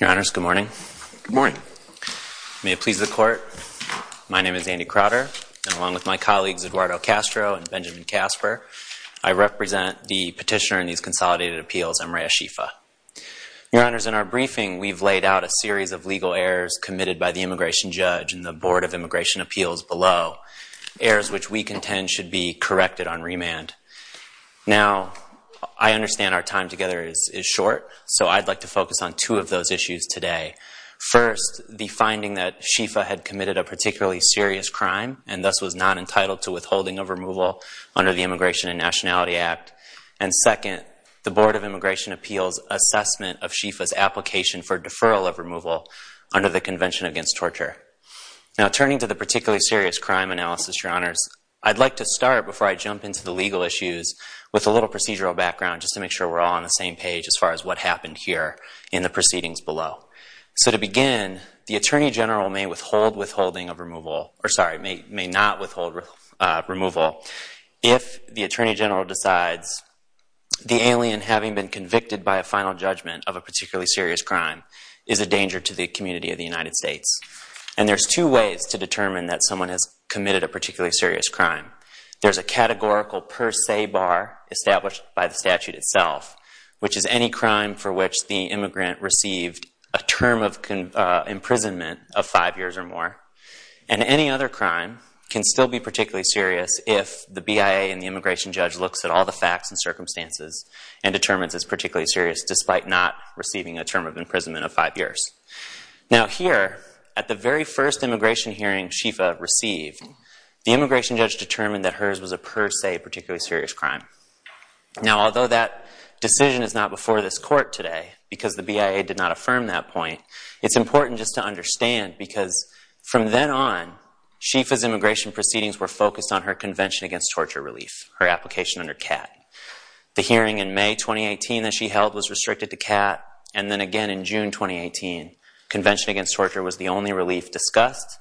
Your Honors, good morning. Good morning. May it please the Court, my name is Andy Crotter, and along with my colleagues Eduardo Castro and Benjamin Casper, I represent the petitioner in these consolidated appeals, Amreya Shefa. Your Honors, in our briefing we've laid out a series of legal errors committed by the immigration judge and the Board of Immigration Appeals below, errors which we contend should be corrected on remand. Now, I understand our time together is short, so I'd like to focus on two of those issues today. First, the finding that Shefa had committed a particularly serious crime and thus was not entitled to withholding of removal under the Immigration and Nationality Act. And second, the Board of Immigration Appeals' assessment of Shefa's application for deferral of removal under the Convention Against Torture. Now turning to the particularly serious crime analysis, Your Honors, I'd like to start before I jump into the legal issues with a little procedural background just to make sure we're all on the same page as far as what happened here in the proceedings below. So to begin, the Attorney General may withhold withholding of removal, or sorry, may not withhold removal if the Attorney General decides the alien having been convicted by a final judgment of a particularly serious crime is a danger to the community of the United States. And there's two ways to determine that someone has committed a particularly serious crime. There's a categorical per se bar established by the statute itself, which is any crime for which the immigrant received a term of imprisonment of five years or more. And any other crime can still be particularly serious if the BIA and the immigration judge looks at all the facts and circumstances and determines it's particularly serious despite not receiving a term of imprisonment of five years. Now here, at the very first immigration hearing Shefa received, the immigration judge determined that hers was a per se particularly serious crime. Now although that decision is not before this court today because the BIA did not affirm that point, it's important just to understand because from then on, Shefa's immigration proceedings were focused on her Convention Against Torture Relief, her application under CAT. The hearing in May 2018 that she held was restricted to CAT. And then again in June 2018, Convention Against Torture was the only relief discussed.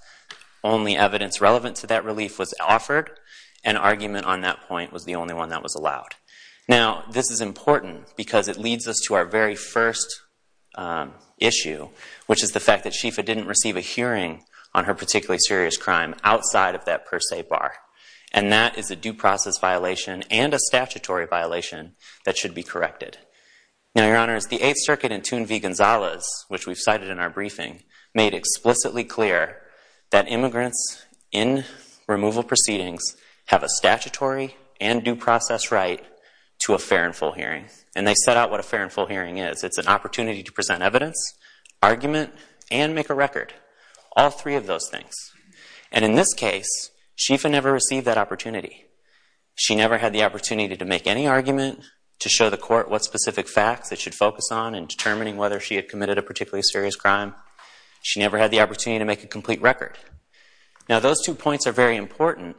Only evidence relevant to that relief was offered. An argument on that point was the only one that was allowed. Now this is important because it leads us to our very first issue, which is the fact that Shefa didn't receive a hearing on her particularly serious crime outside of that per se bar. And that is a due process violation and a statutory violation that should be corrected. Now Your Honor, the Eighth Circuit in Thune v. Gonzalez, which we've cited in our briefing, made explicitly clear that immigrants in removal proceedings have a statutory and due process right to a fair and full hearing. And they set out what a fair and full hearing is. It's an opportunity to present evidence, argument, and make a record. All three of those things. And in this case, Shefa never received that opportunity. She never had the opportunity to make any argument, to show the court what specific facts it should focus on in determining whether she had committed a particularly serious crime. She never had the opportunity to make a complete record. Now those two points are very important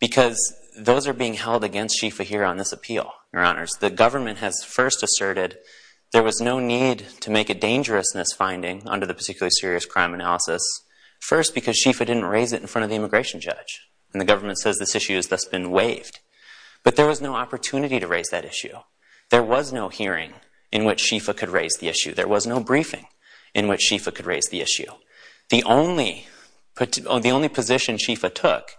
because those are being held against Shefa here on this appeal, Your Honors. The government has first asserted there was no need to make a dangerousness finding under the particularly serious crime analysis, first because Shefa didn't raise it in front of the immigration judge. And the government says this issue has thus been waived. But there was no opportunity to raise that issue. There was no hearing in which Shefa could raise the issue. There was no briefing in which Shefa could raise the issue. The only position Shefa took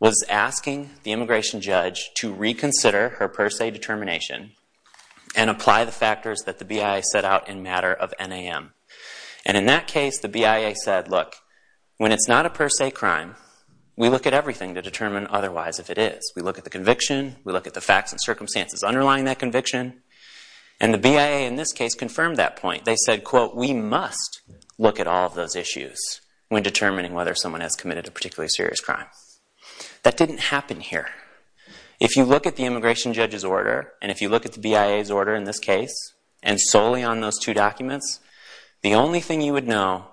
was asking the immigration judge to reconsider her per se determination and apply the factors that the BIA set out in matter of NAM. And in that case, the BIA said, look, when it's not a per se crime, we look at everything to determine otherwise if it is. We look at the conviction. We look at the facts and circumstances underlying that conviction. And the BIA in this case confirmed that point. They said, quote, we must look at all of those issues when determining whether someone has committed a particularly serious crime. That didn't happen here. If you look at the immigration judge's order and if you look at the BIA's order in this documents, the only thing you would know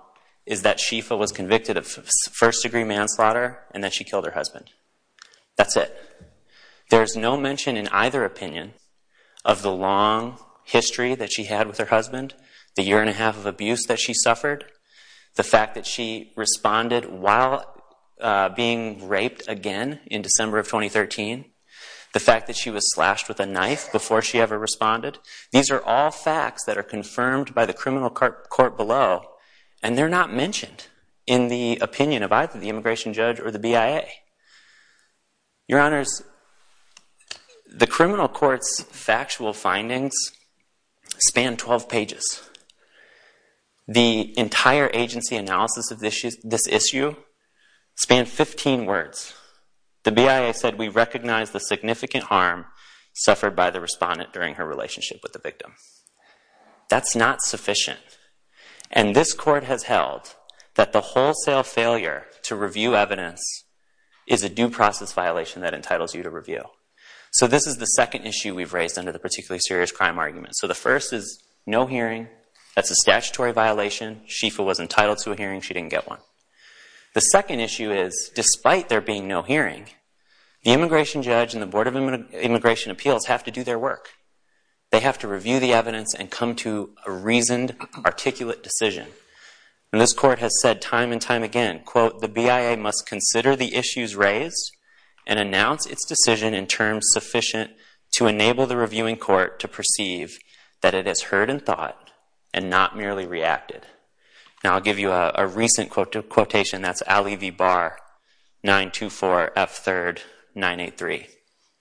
is that Shefa was convicted of first degree manslaughter and that she killed her husband. That's it. There's no mention in either opinion of the long history that she had with her husband, the year and a half of abuse that she suffered, the fact that she responded while being raped again in December of 2013, the fact that she was slashed with a knife before she ever responded. These are all facts that are confirmed by the criminal court below and they're not mentioned in the opinion of either the immigration judge or the BIA. Your Honors, the criminal court's factual findings span 12 pages. The entire agency analysis of this issue spanned 15 words. The BIA said we recognize the significant harm suffered by the respondent during her relationship with the victim. That's not sufficient. And this court has held that the wholesale failure to review evidence is a due process violation that entitles you to review. So this is the second issue we've raised under the particularly serious crime argument. So the first is no hearing, that's a statutory violation, Shefa was entitled to a hearing, she didn't get one. The second issue is, despite there being no hearing, the immigration judge and the Board of Immigration Appeals have to do their work. They have to review the evidence and come to a reasoned, articulate decision. This court has said time and time again, quote, the BIA must consider the issues raised and announce its decision in terms sufficient to enable the reviewing court to perceive that it has heard and thought and not merely reacted. Now I'll give you a recent quotation, that's Ali V. Barr, 924 F. 3rd, 983,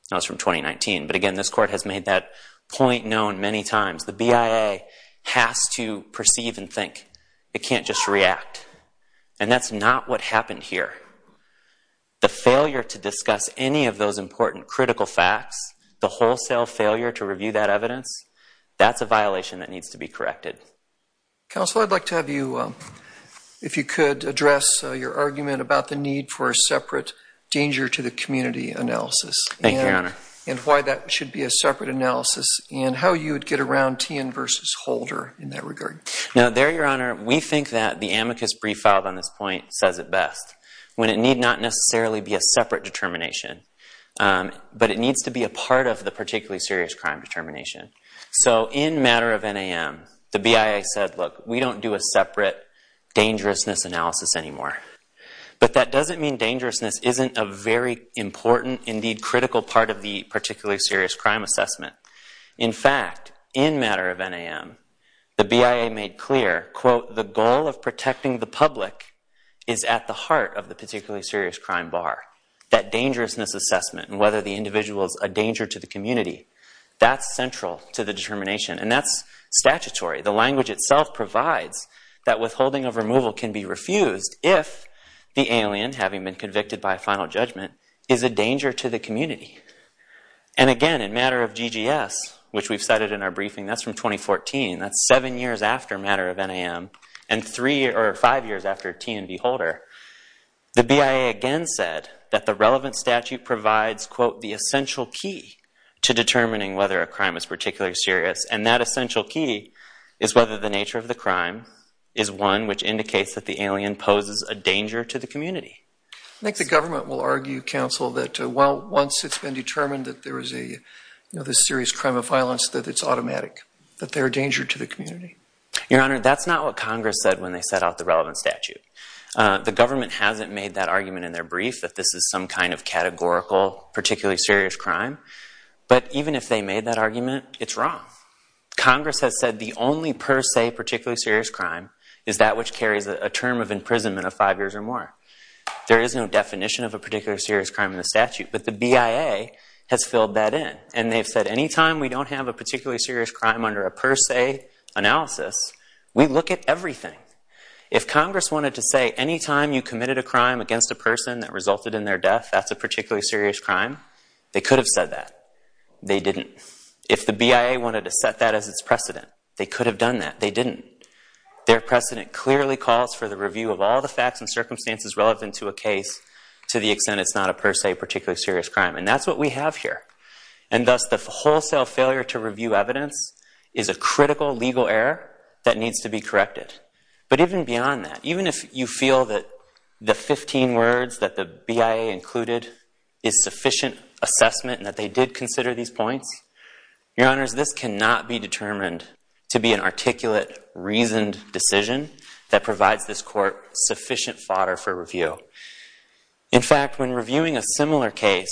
that was from 2019. But again, this court has made that point known many times, the BIA has to perceive and think, it can't just react. And that's not what happened here. The failure to discuss any of those important critical facts, the wholesale failure to review that evidence, that's a violation that needs to be corrected. Counsel, I'd like to have you, if you could, address your argument about the need for a separate danger to the community analysis. Thank you, Your Honor. And why that should be a separate analysis, and how you would get around Tien versus Holder in that regard. Now there, Your Honor, we think that the amicus brief filed on this point says it best, when it need not necessarily be a separate determination, but it needs to be a part of the particularly serious crime determination. So in matter of NAM, the BIA said, look, we don't do a separate dangerousness analysis anymore. But that doesn't mean dangerousness isn't a very important, indeed critical part of the particularly serious crime assessment. In fact, in matter of NAM, the BIA made clear, quote, the goal of protecting the public is at the heart of the particularly serious crime bar. That dangerousness assessment, and whether the individual is a danger to the community, that's central to the determination. And that's statutory. The language itself provides that withholding of removal can be refused if the alien, having been convicted by a final judgment, is a danger to the community. And again, in matter of GGS, which we've cited in our briefing, that's from 2014. That's seven years after matter of NAM, and three or five years after Tien v. Holder. The BIA again said that the relevant statute provides, quote, the essential key to determining whether a crime is particularly serious. And that essential key is whether the nature of the crime is one which indicates that the alien poses a danger to the community. I think the government will argue, counsel, that once it's been determined that there is a serious crime of violence, that it's automatic, that they're a danger to the community. Your Honor, that's not what Congress said when they set out the relevant statute. The government hasn't made that argument in their brief, that this is some kind of categorical particularly serious crime. But even if they made that argument, it's wrong. Congress has said the only per se particularly serious crime is that which carries a term of imprisonment of five years or more. There is no definition of a particularly serious crime in the statute, but the BIA has filled that in. And they've said any time we don't have a particularly serious crime under a per se analysis, we look at everything. If Congress wanted to say any time you committed a crime against a person that resulted in their death, that's a particularly serious crime, they could have said that. They didn't. If the BIA wanted to set that as its precedent, they could have done that. They didn't. Their precedent clearly calls for the review of all the facts and circumstances relevant to a case to the extent it's not a per se particularly serious crime. And that's what we have here. And thus, the wholesale failure to review evidence is a critical legal error that needs to be corrected. But even beyond that, even if you feel that the 15 words that the BIA included is sufficient assessment and that they did consider these points, your honors, this cannot be determined to be an articulate, reasoned decision that provides this court sufficient fodder for review. In fact, when reviewing a similar case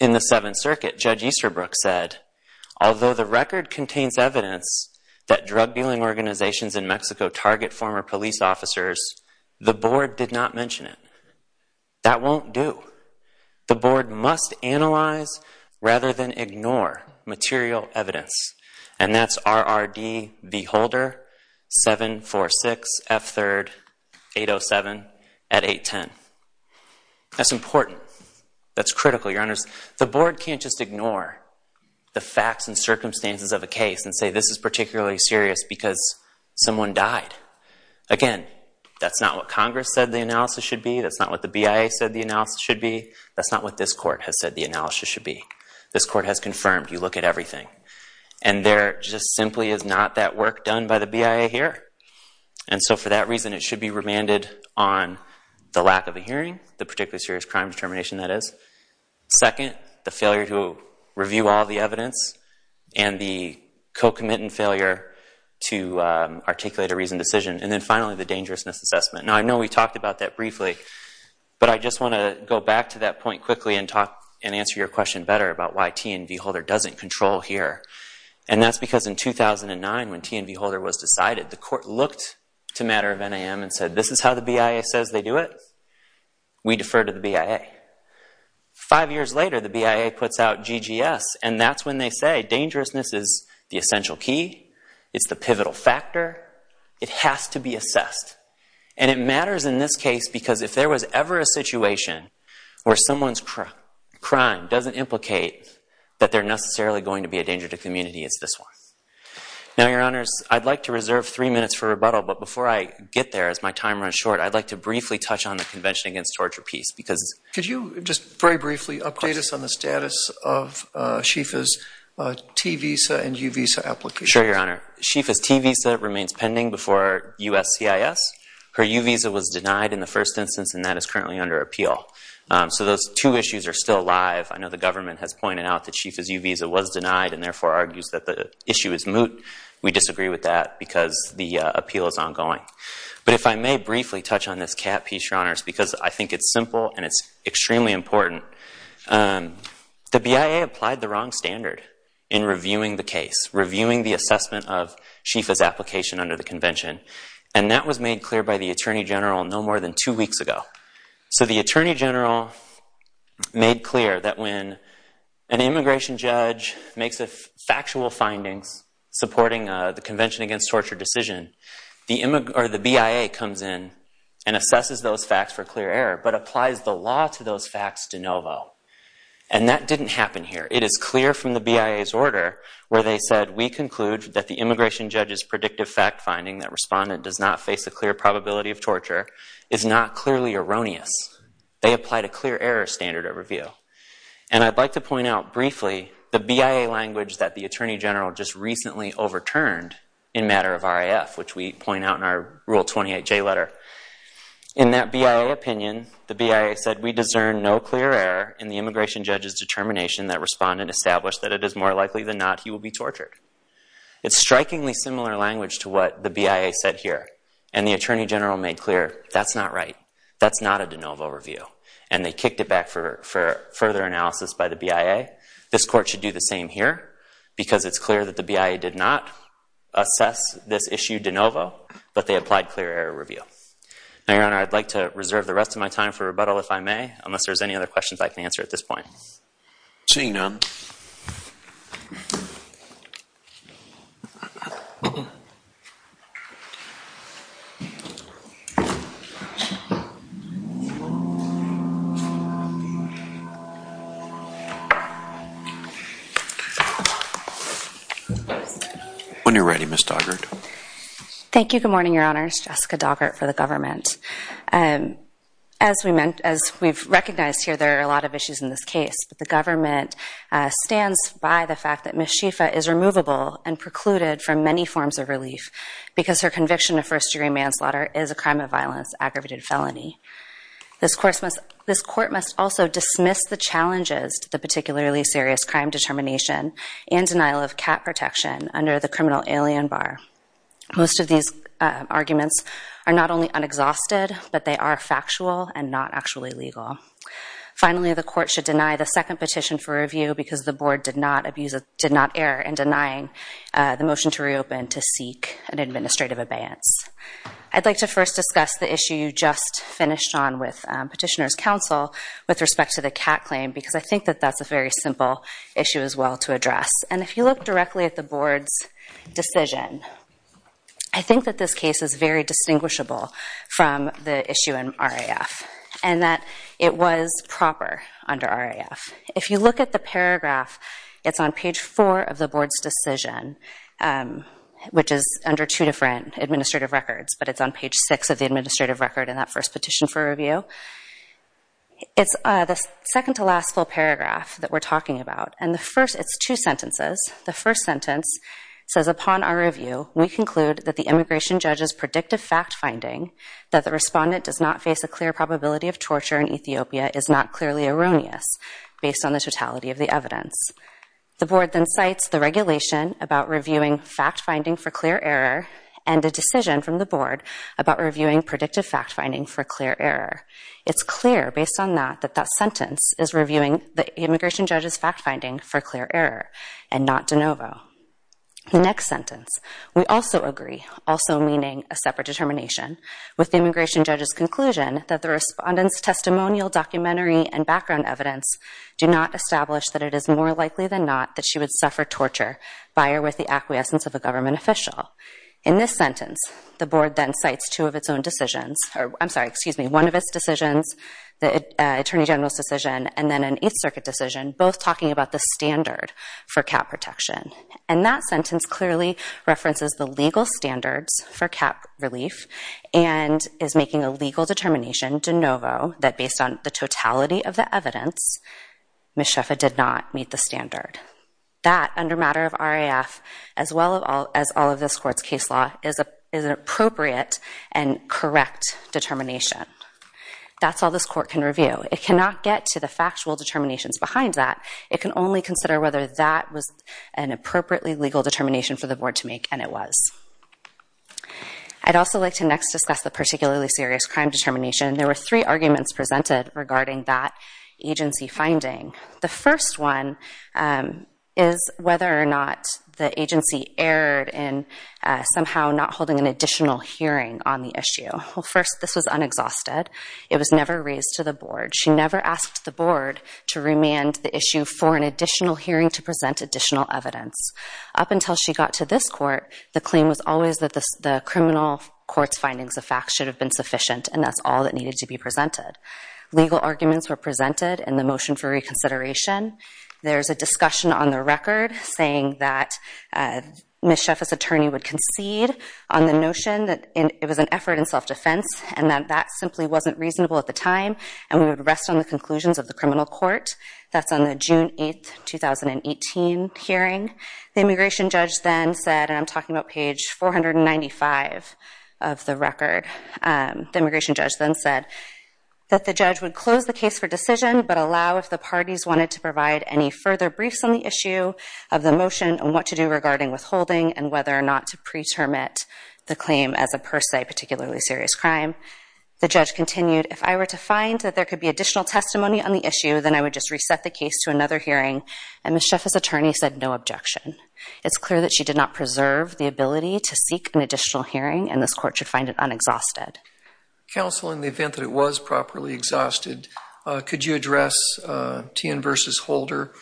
in the Seventh Circuit, Judge Easterbrook said, Although the record contains evidence that drug dealing organizations in Mexico target former police officers, the board did not mention it. That won't do. The board must analyze rather than ignore material evidence. And that's RRD v. Holder, 746 F. 3rd, 807 at 810. That's important. That's critical, your honors. The board can't just ignore the facts and circumstances of a case and say this is particularly serious because someone died. Again, that's not what Congress said the analysis should be. That's not what the BIA said the analysis should be. That's not what this court has said the analysis should be. This court has confirmed. You look at everything. And there just simply is not that work done by the BIA here. And so for that reason, it should be remanded on the lack of a hearing, the particularly serious crime determination, that is, second, the failure to review all the evidence, and the co-commitment failure to articulate a reasoned decision, and then finally, the dangerousness assessment. Now, I know we talked about that briefly, but I just want to go back to that point quickly and talk and answer your question better about why T and v. Holder doesn't control here. And that's because in 2009, when T and v. Holder was decided, the court looked to matter of NAM and said, this is how the BIA says they do it. We defer to the BIA. Five years later, the BIA puts out GGS, and that's when they say dangerousness is the essential key. It's the pivotal factor. It has to be assessed. And it matters in this case because if there was ever a situation where someone's crime doesn't implicate that they're necessarily going to be a danger to community, it's this one. Now, Your Honors, I'd like to reserve three minutes for rebuttal, but before I get there, as my time runs short, I'd like to briefly touch on the Convention Against Torture Peace because it's- Could you just very briefly update us on the status of SHEFA's T visa and U visa applications? Sure, Your Honor. SHEFA's T visa remains pending before USCIS. Her U visa was denied in the first instance, and that is currently under appeal. So those two issues are still alive. I know the government has pointed out that SHEFA's U visa was denied and therefore argues that the issue is moot. We disagree with that because the appeal is ongoing. But if I may briefly touch on this cat piece, Your Honors, because I think it's simple and it's extremely important, the BIA applied the wrong standard in reviewing the case, reviewing the assessment of SHEFA's application under the convention, and that was made clear by the Attorney General no more than two weeks ago. So the Attorney General made clear that when an immigration judge makes factual findings supporting the Convention Against Torture decision, the BIA comes in and assesses those facts for clear error but applies the law to those facts de novo. And that didn't happen here. It is clear from the BIA's order where they said, we conclude that the immigration judge's predictive fact finding that respondent does not face a clear probability of torture is not clearly erroneous. They applied a clear error standard of review. And I'd like to point out briefly the BIA language that the Attorney General just recently overturned in matter of RAF, which we point out in our Rule 28J letter. In that BIA opinion, the BIA said, we discern no clear error in the immigration judge's determination that respondent established that it is more likely than not he will be tortured. It's strikingly similar language to what the BIA said here. And the Attorney General made clear, that's not right. That's not a de novo review. And they kicked it back for further analysis by the BIA. This court should do the same here, because it's clear that the BIA did not assess this issue de novo, but they applied clear error review. Now, Your Honor, I'd like to reserve the rest of my time for rebuttal, if I may, unless there's any other questions I can answer at this point. Seeing none. When you're ready, Ms. Doggart. Thank you. Good morning, Your Honors. Jessica Doggart for the government. As we've recognized here, there are a lot of issues in this case. But the government stands by the fact that Ms. Schieffa is removable and precluded from many forms of relief, because her conviction of first degree manslaughter is a crime of violence, aggravated felony. This court must also dismiss the challenges to the particularly serious crime determination and denial of cat protection under the criminal alien bar. Most of these arguments are not only unexhausted, but they are factual and not actually legal. Finally, the court should deny the second petition for review, because the board did not err in denying the motion to reopen to seek an administrative abeyance. I'd like to first discuss the issue you just finished on with Petitioner's Counsel with respect to the cat claim, because I think that that's a very simple issue as well to address. And if you look directly at the board's decision, I think that this case is very distinguishable from the issue in RAF, and that it was proper under RAF. If you look at the paragraph, it's on page four of the board's decision, which is under two different administrative records, but it's on page six of the administrative record in that first petition for review. It's the second to last full paragraph that we're talking about. And the first, it's two sentences. The first sentence says, upon our review, we conclude that the immigration judge's predictive fact finding that the respondent does not face a clear probability of torture in Ethiopia is not clearly erroneous, based on the totality of the evidence. The board then cites the regulation about reviewing fact finding for clear error, and a decision from the board about reviewing predictive fact finding for clear error. It's clear, based on that, that that sentence is reviewing the immigration judge's fact finding for clear error, and not de novo. The next sentence, we also agree, also meaning a separate determination, with the immigration judge's conclusion that the respondent's testimonial, documentary, and background evidence do not establish that it is more likely than not that she would suffer torture by or with the acquiescence of a government official. In this sentence, the board then cites two of its own decisions, or I'm sorry, excuse me, one of its decisions, the Attorney General's decision, and then an Eighth Circuit decision, both talking about the standard for cap protection. And that sentence clearly references the legal standards for cap relief, and is making a conclusion, based on the totality of the evidence, Ms. Sheffa did not meet the standard. That under matter of RAF, as well as all of this court's case law, is an appropriate and correct determination. That's all this court can review. It cannot get to the factual determinations behind that. It can only consider whether that was an appropriately legal determination for the board to make, and it was. I'd also like to next discuss the particularly serious crime determination. There were three arguments presented regarding that agency finding. The first one is whether or not the agency erred in somehow not holding an additional hearing on the issue. Well, first, this was unexhausted. It was never raised to the board. She never asked the board to remand the issue for an additional hearing to present additional evidence. Up until she got to this court, the claim was always that the criminal court's findings of facts should have been sufficient, and that's all that needed to be presented. Legal arguments were presented in the motion for reconsideration. There's a discussion on the record saying that Ms. Sheffa's attorney would concede on the notion that it was an effort in self-defense, and that that simply wasn't reasonable at the time, and we would rest on the conclusions of the criminal court. That's on the June 8, 2018 hearing. The immigration judge then said, and I'm talking about page 495 of the record, the immigration judge then said that the judge would close the case for decision, but allow if the parties wanted to provide any further briefs on the issue of the motion and what to do regarding withholding and whether or not to pre-termit the claim as a per se particularly serious crime. The judge continued, if I were to find that there could be additional testimony on the issue, then I would just reset the case to another hearing, and Ms. Sheffa's attorney said no objection. It's clear that she did not preserve the ability to seek an additional hearing, and this court should find it unexhausted. Counsel, in the event that it was properly exhausted, could you address Tien versus Holder?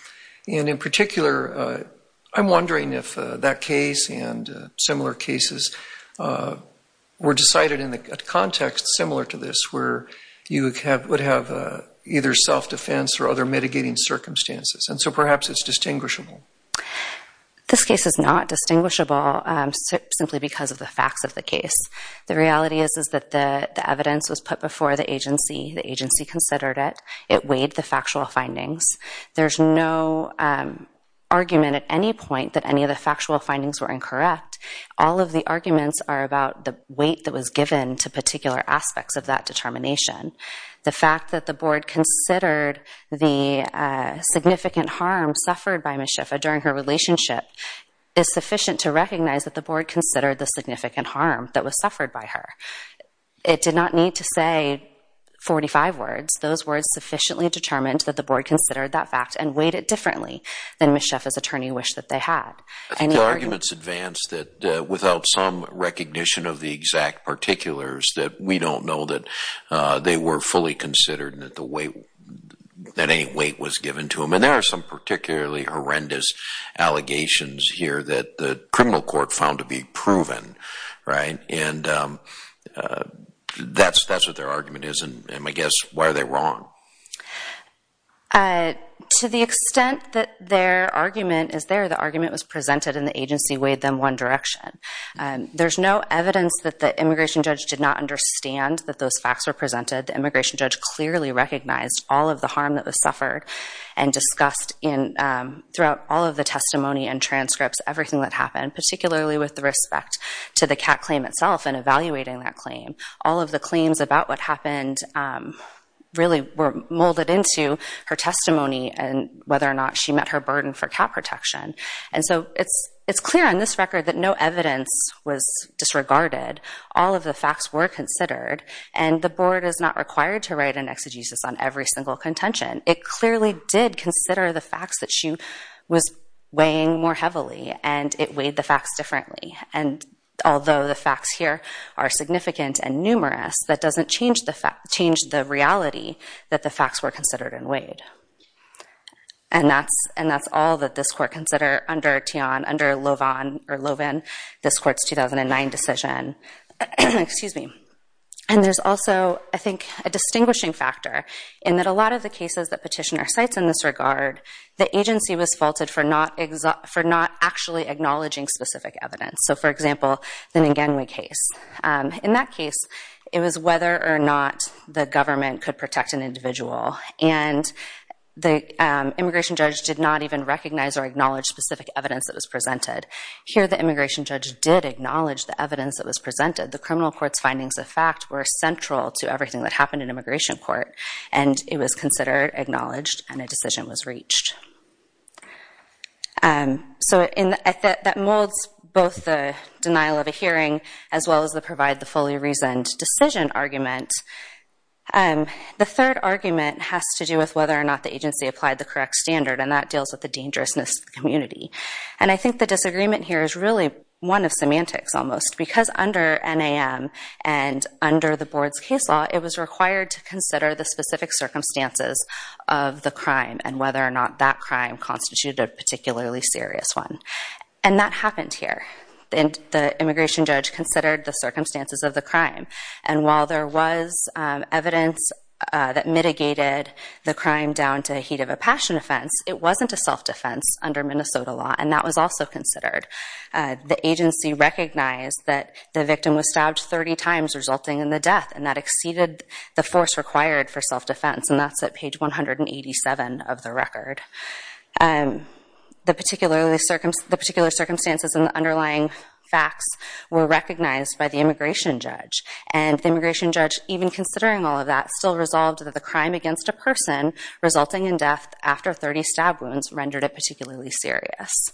And in particular, I'm wondering if that case and similar cases were decided in a context similar to this where you would have either self-defense or other mitigating circumstances, and so perhaps it's distinguishable. This case is not distinguishable simply because of the facts of the case. The reality is that the evidence was put before the agency, the agency considered it, it weighed the factual findings. There's no argument at any point that any of the factual findings were incorrect. All of the arguments are about the weight that was given to particular aspects of that determination. The fact that the board considered the significant harm suffered by Ms. Sheffa during her relationship is sufficient to recognize that the board considered the significant harm that was suffered by her. It did not need to say 45 words. Those words sufficiently determined that the board considered that fact and weighed it differently than Ms. Sheffa's attorney wished that they had. I think the arguments advance that without some recognition of the exact particulars that we don't know that they were fully considered and that the weight, that any weight was given to them. And there are some particularly horrendous allegations here that the criminal court found to be proven, right, and that's what their argument is, and I guess, why are they wrong? To the extent that their argument is there, the argument was presented and the agency weighed them one direction. There's no evidence that the immigration judge did not understand that those facts were presented. The immigration judge clearly recognized all of the harm that was suffered and discussed in, throughout all of the testimony and transcripts, everything that happened, particularly with respect to the cat claim itself and evaluating that claim. All of the claims about what happened really were molded into her testimony and whether or not she met her burden for cat protection. And so, it's clear on this record that no evidence was disregarded. All of the facts were considered, and the board is not required to write an exegesis on every single contention. It clearly did consider the facts that she was weighing more heavily, and it weighed the facts differently. And although the facts here are significant and numerous, that doesn't change the reality that the facts were considered and weighed. And that's all that this court considered under Teon, under Lovan, this court's 2009 decision. And there's also, I think, a distinguishing factor in that a lot of the cases that petitioner cites in this regard, the agency was faulted for not actually acknowledging specific evidence. So, for example, the Nganwe case. In that case, it was whether or not the government could protect an individual. And the immigration judge did not even recognize or acknowledge specific evidence that was presented. Here, the immigration judge did acknowledge the evidence that was presented. The criminal court's findings of fact were central to everything that happened in immigration court. And it was considered, acknowledged, and a decision was reached. So that molds both the denial of a hearing as well as the provide the fully reasoned decision argument. The third argument has to do with whether or not the agency applied the correct standard. And that deals with the dangerousness of the community. And I think the disagreement here is really one of semantics, almost. Because under NAM and under the board's case law, it was required to consider the specific circumstances of the crime and whether or not that crime constituted a particularly serious one. And that happened here. The immigration judge considered the circumstances of the crime. And while there was evidence that mitigated the crime down to heat of a passion offense, it wasn't a self-defense under Minnesota law. And that was also considered. The agency recognized that the victim was stabbed 30 times, resulting in the death. And that exceeded the force required for self-defense. And that's at page 187 of the record. The particular circumstances and the underlying facts were recognized by the immigration judge. And the immigration judge, even considering all of that, still resolved that the crime against a person resulting in death after 30 stab wounds rendered it particularly serious.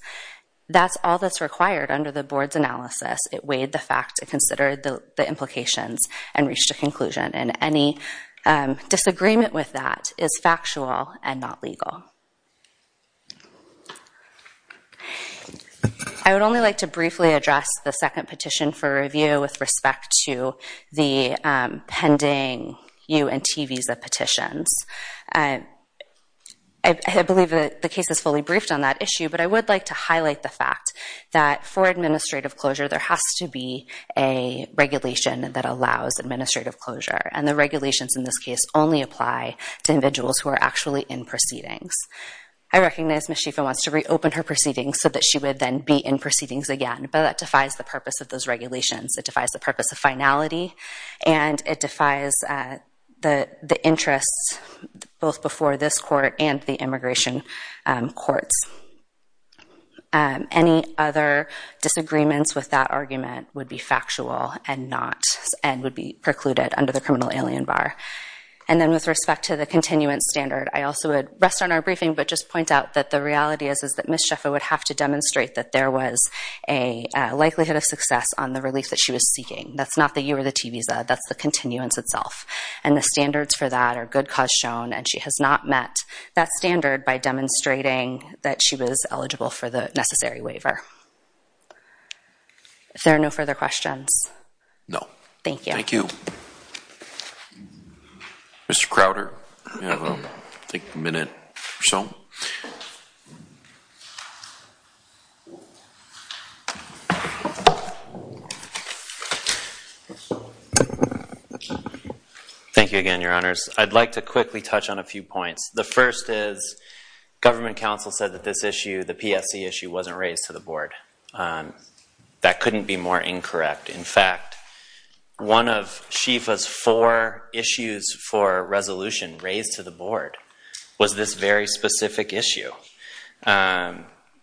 That's all that's required under the board's analysis. It weighed the facts. It considered the implications and reached a conclusion. And any disagreement with that is factual and not legal. I would only like to briefly address the second petition for review with respect to the pending UNT visa petitions. I believe that the case is fully briefed on that issue. But I would like to highlight the fact that for administrative closure, there has to be a regulation that allows administrative closure. And the regulations in this case only apply to individuals who are actually in proceedings. I recognize Ms. Schieffel wants to reopen her proceedings so that she would then be in proceedings again. But that defies the purpose of those regulations. It defies the purpose of finality. And it defies the interests both before this court and the immigration courts. Any other disagreements with that argument would be factual and would be precluded under the criminal alien bar. And then with respect to the continuance standard, I also would rest on our briefing but just point out that the reality is that Ms. Schieffel would have to demonstrate that there was a likelihood of success on the relief that she was seeking. That's not the UR the T visa. That's the continuance itself. And the standards for that are good cause shown. And she has not met that standard by demonstrating that she was eligible for the necessary waiver. Is there no further questions? No. Thank you. Thank you. Mr. Crowder, you have, I think, a minute or so. Thank you again, Your Honors. I'd like to quickly touch on a few points. The first is government counsel said that this issue, the PSC issue, wasn't raised to the board. That couldn't be more incorrect. In fact, one of Schieffel's four issues for resolution raised to the board was this very specific issue.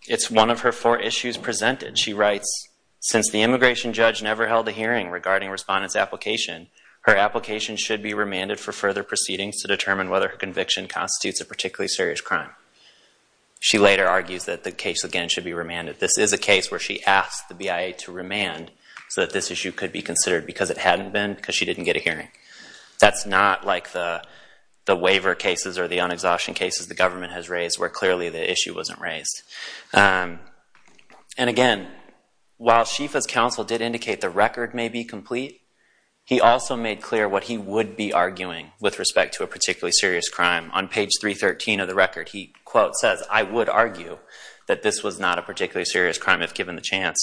It's one of her four issues presented. She writes, since the immigration judge never held a hearing regarding respondents' application, her application should be remanded for further proceedings to determine whether her conviction constitutes a particularly serious crime. She later argues that the case, again, should be remanded. This is a case where she asked the BIA to remand so that this issue could be considered because it hadn't been, because she didn't get a hearing. That's not like the waiver cases or the unexhaustion cases the government has raised, where clearly the issue wasn't raised. And again, while Schieffel's counsel did indicate the record may be complete, he also made clear what he would be arguing with respect to a particularly serious crime. On page 313 of the record, he, quote, says, I would argue that this was not a particularly serious crime if given the chance.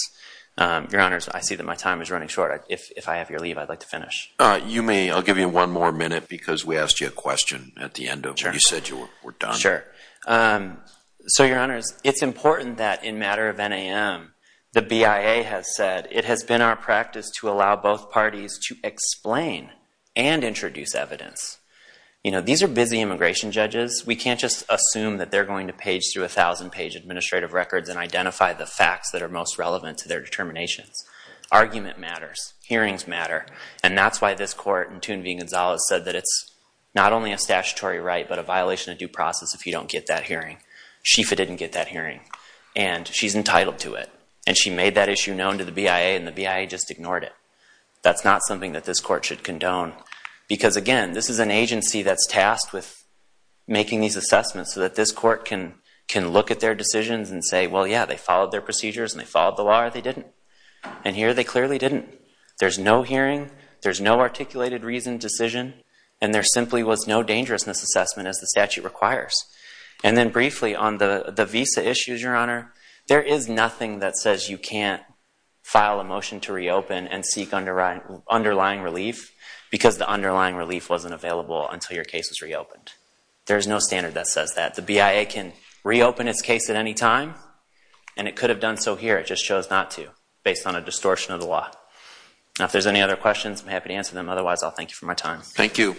Your Honors, I see that my time is running short. If I have your leave, I'd like to finish. You may. I'll give you one more minute because we asked you a question at the end of it. You said you were done. Sure. So, Your Honors, it's important that in matter of NAM, the BIA has said, it has been our practice to allow both parties to explain and introduce evidence. You know, these are busy immigration judges. We can't just assume that they're going to page through a thousand-page administrative records and identify the facts that are most relevant to their determinations. Argument matters. Hearings matter. And that's why this court in Thun v. Gonzalez said that it's not only a statutory right, but a violation of due process if you don't get that hearing. Schieffel didn't get that hearing, and she's entitled to it. And she made that issue known to the BIA, and the BIA just ignored it. That's not something that this court should condone. Because, again, this is an agency that's tasked with making these assessments so that this court can look at their decisions and say, well, yeah, they followed their procedures and they followed the law, or they didn't. And here they clearly didn't. There's no hearing, there's no articulated reason decision, and there simply was no dangerousness assessment as the statute requires. And then briefly, on the visa issues, Your Honor, there is nothing that says you can't file a motion to reopen and seek underlying relief because the underlying relief wasn't available until your case was reopened. There is no standard that says that. The BIA can reopen its case at any time, and it could have done so here. It just chose not to based on a distortion of the law. Now, if there's any other questions, I'm happy to answer them. Otherwise, I'll thank you for my time. Thank you.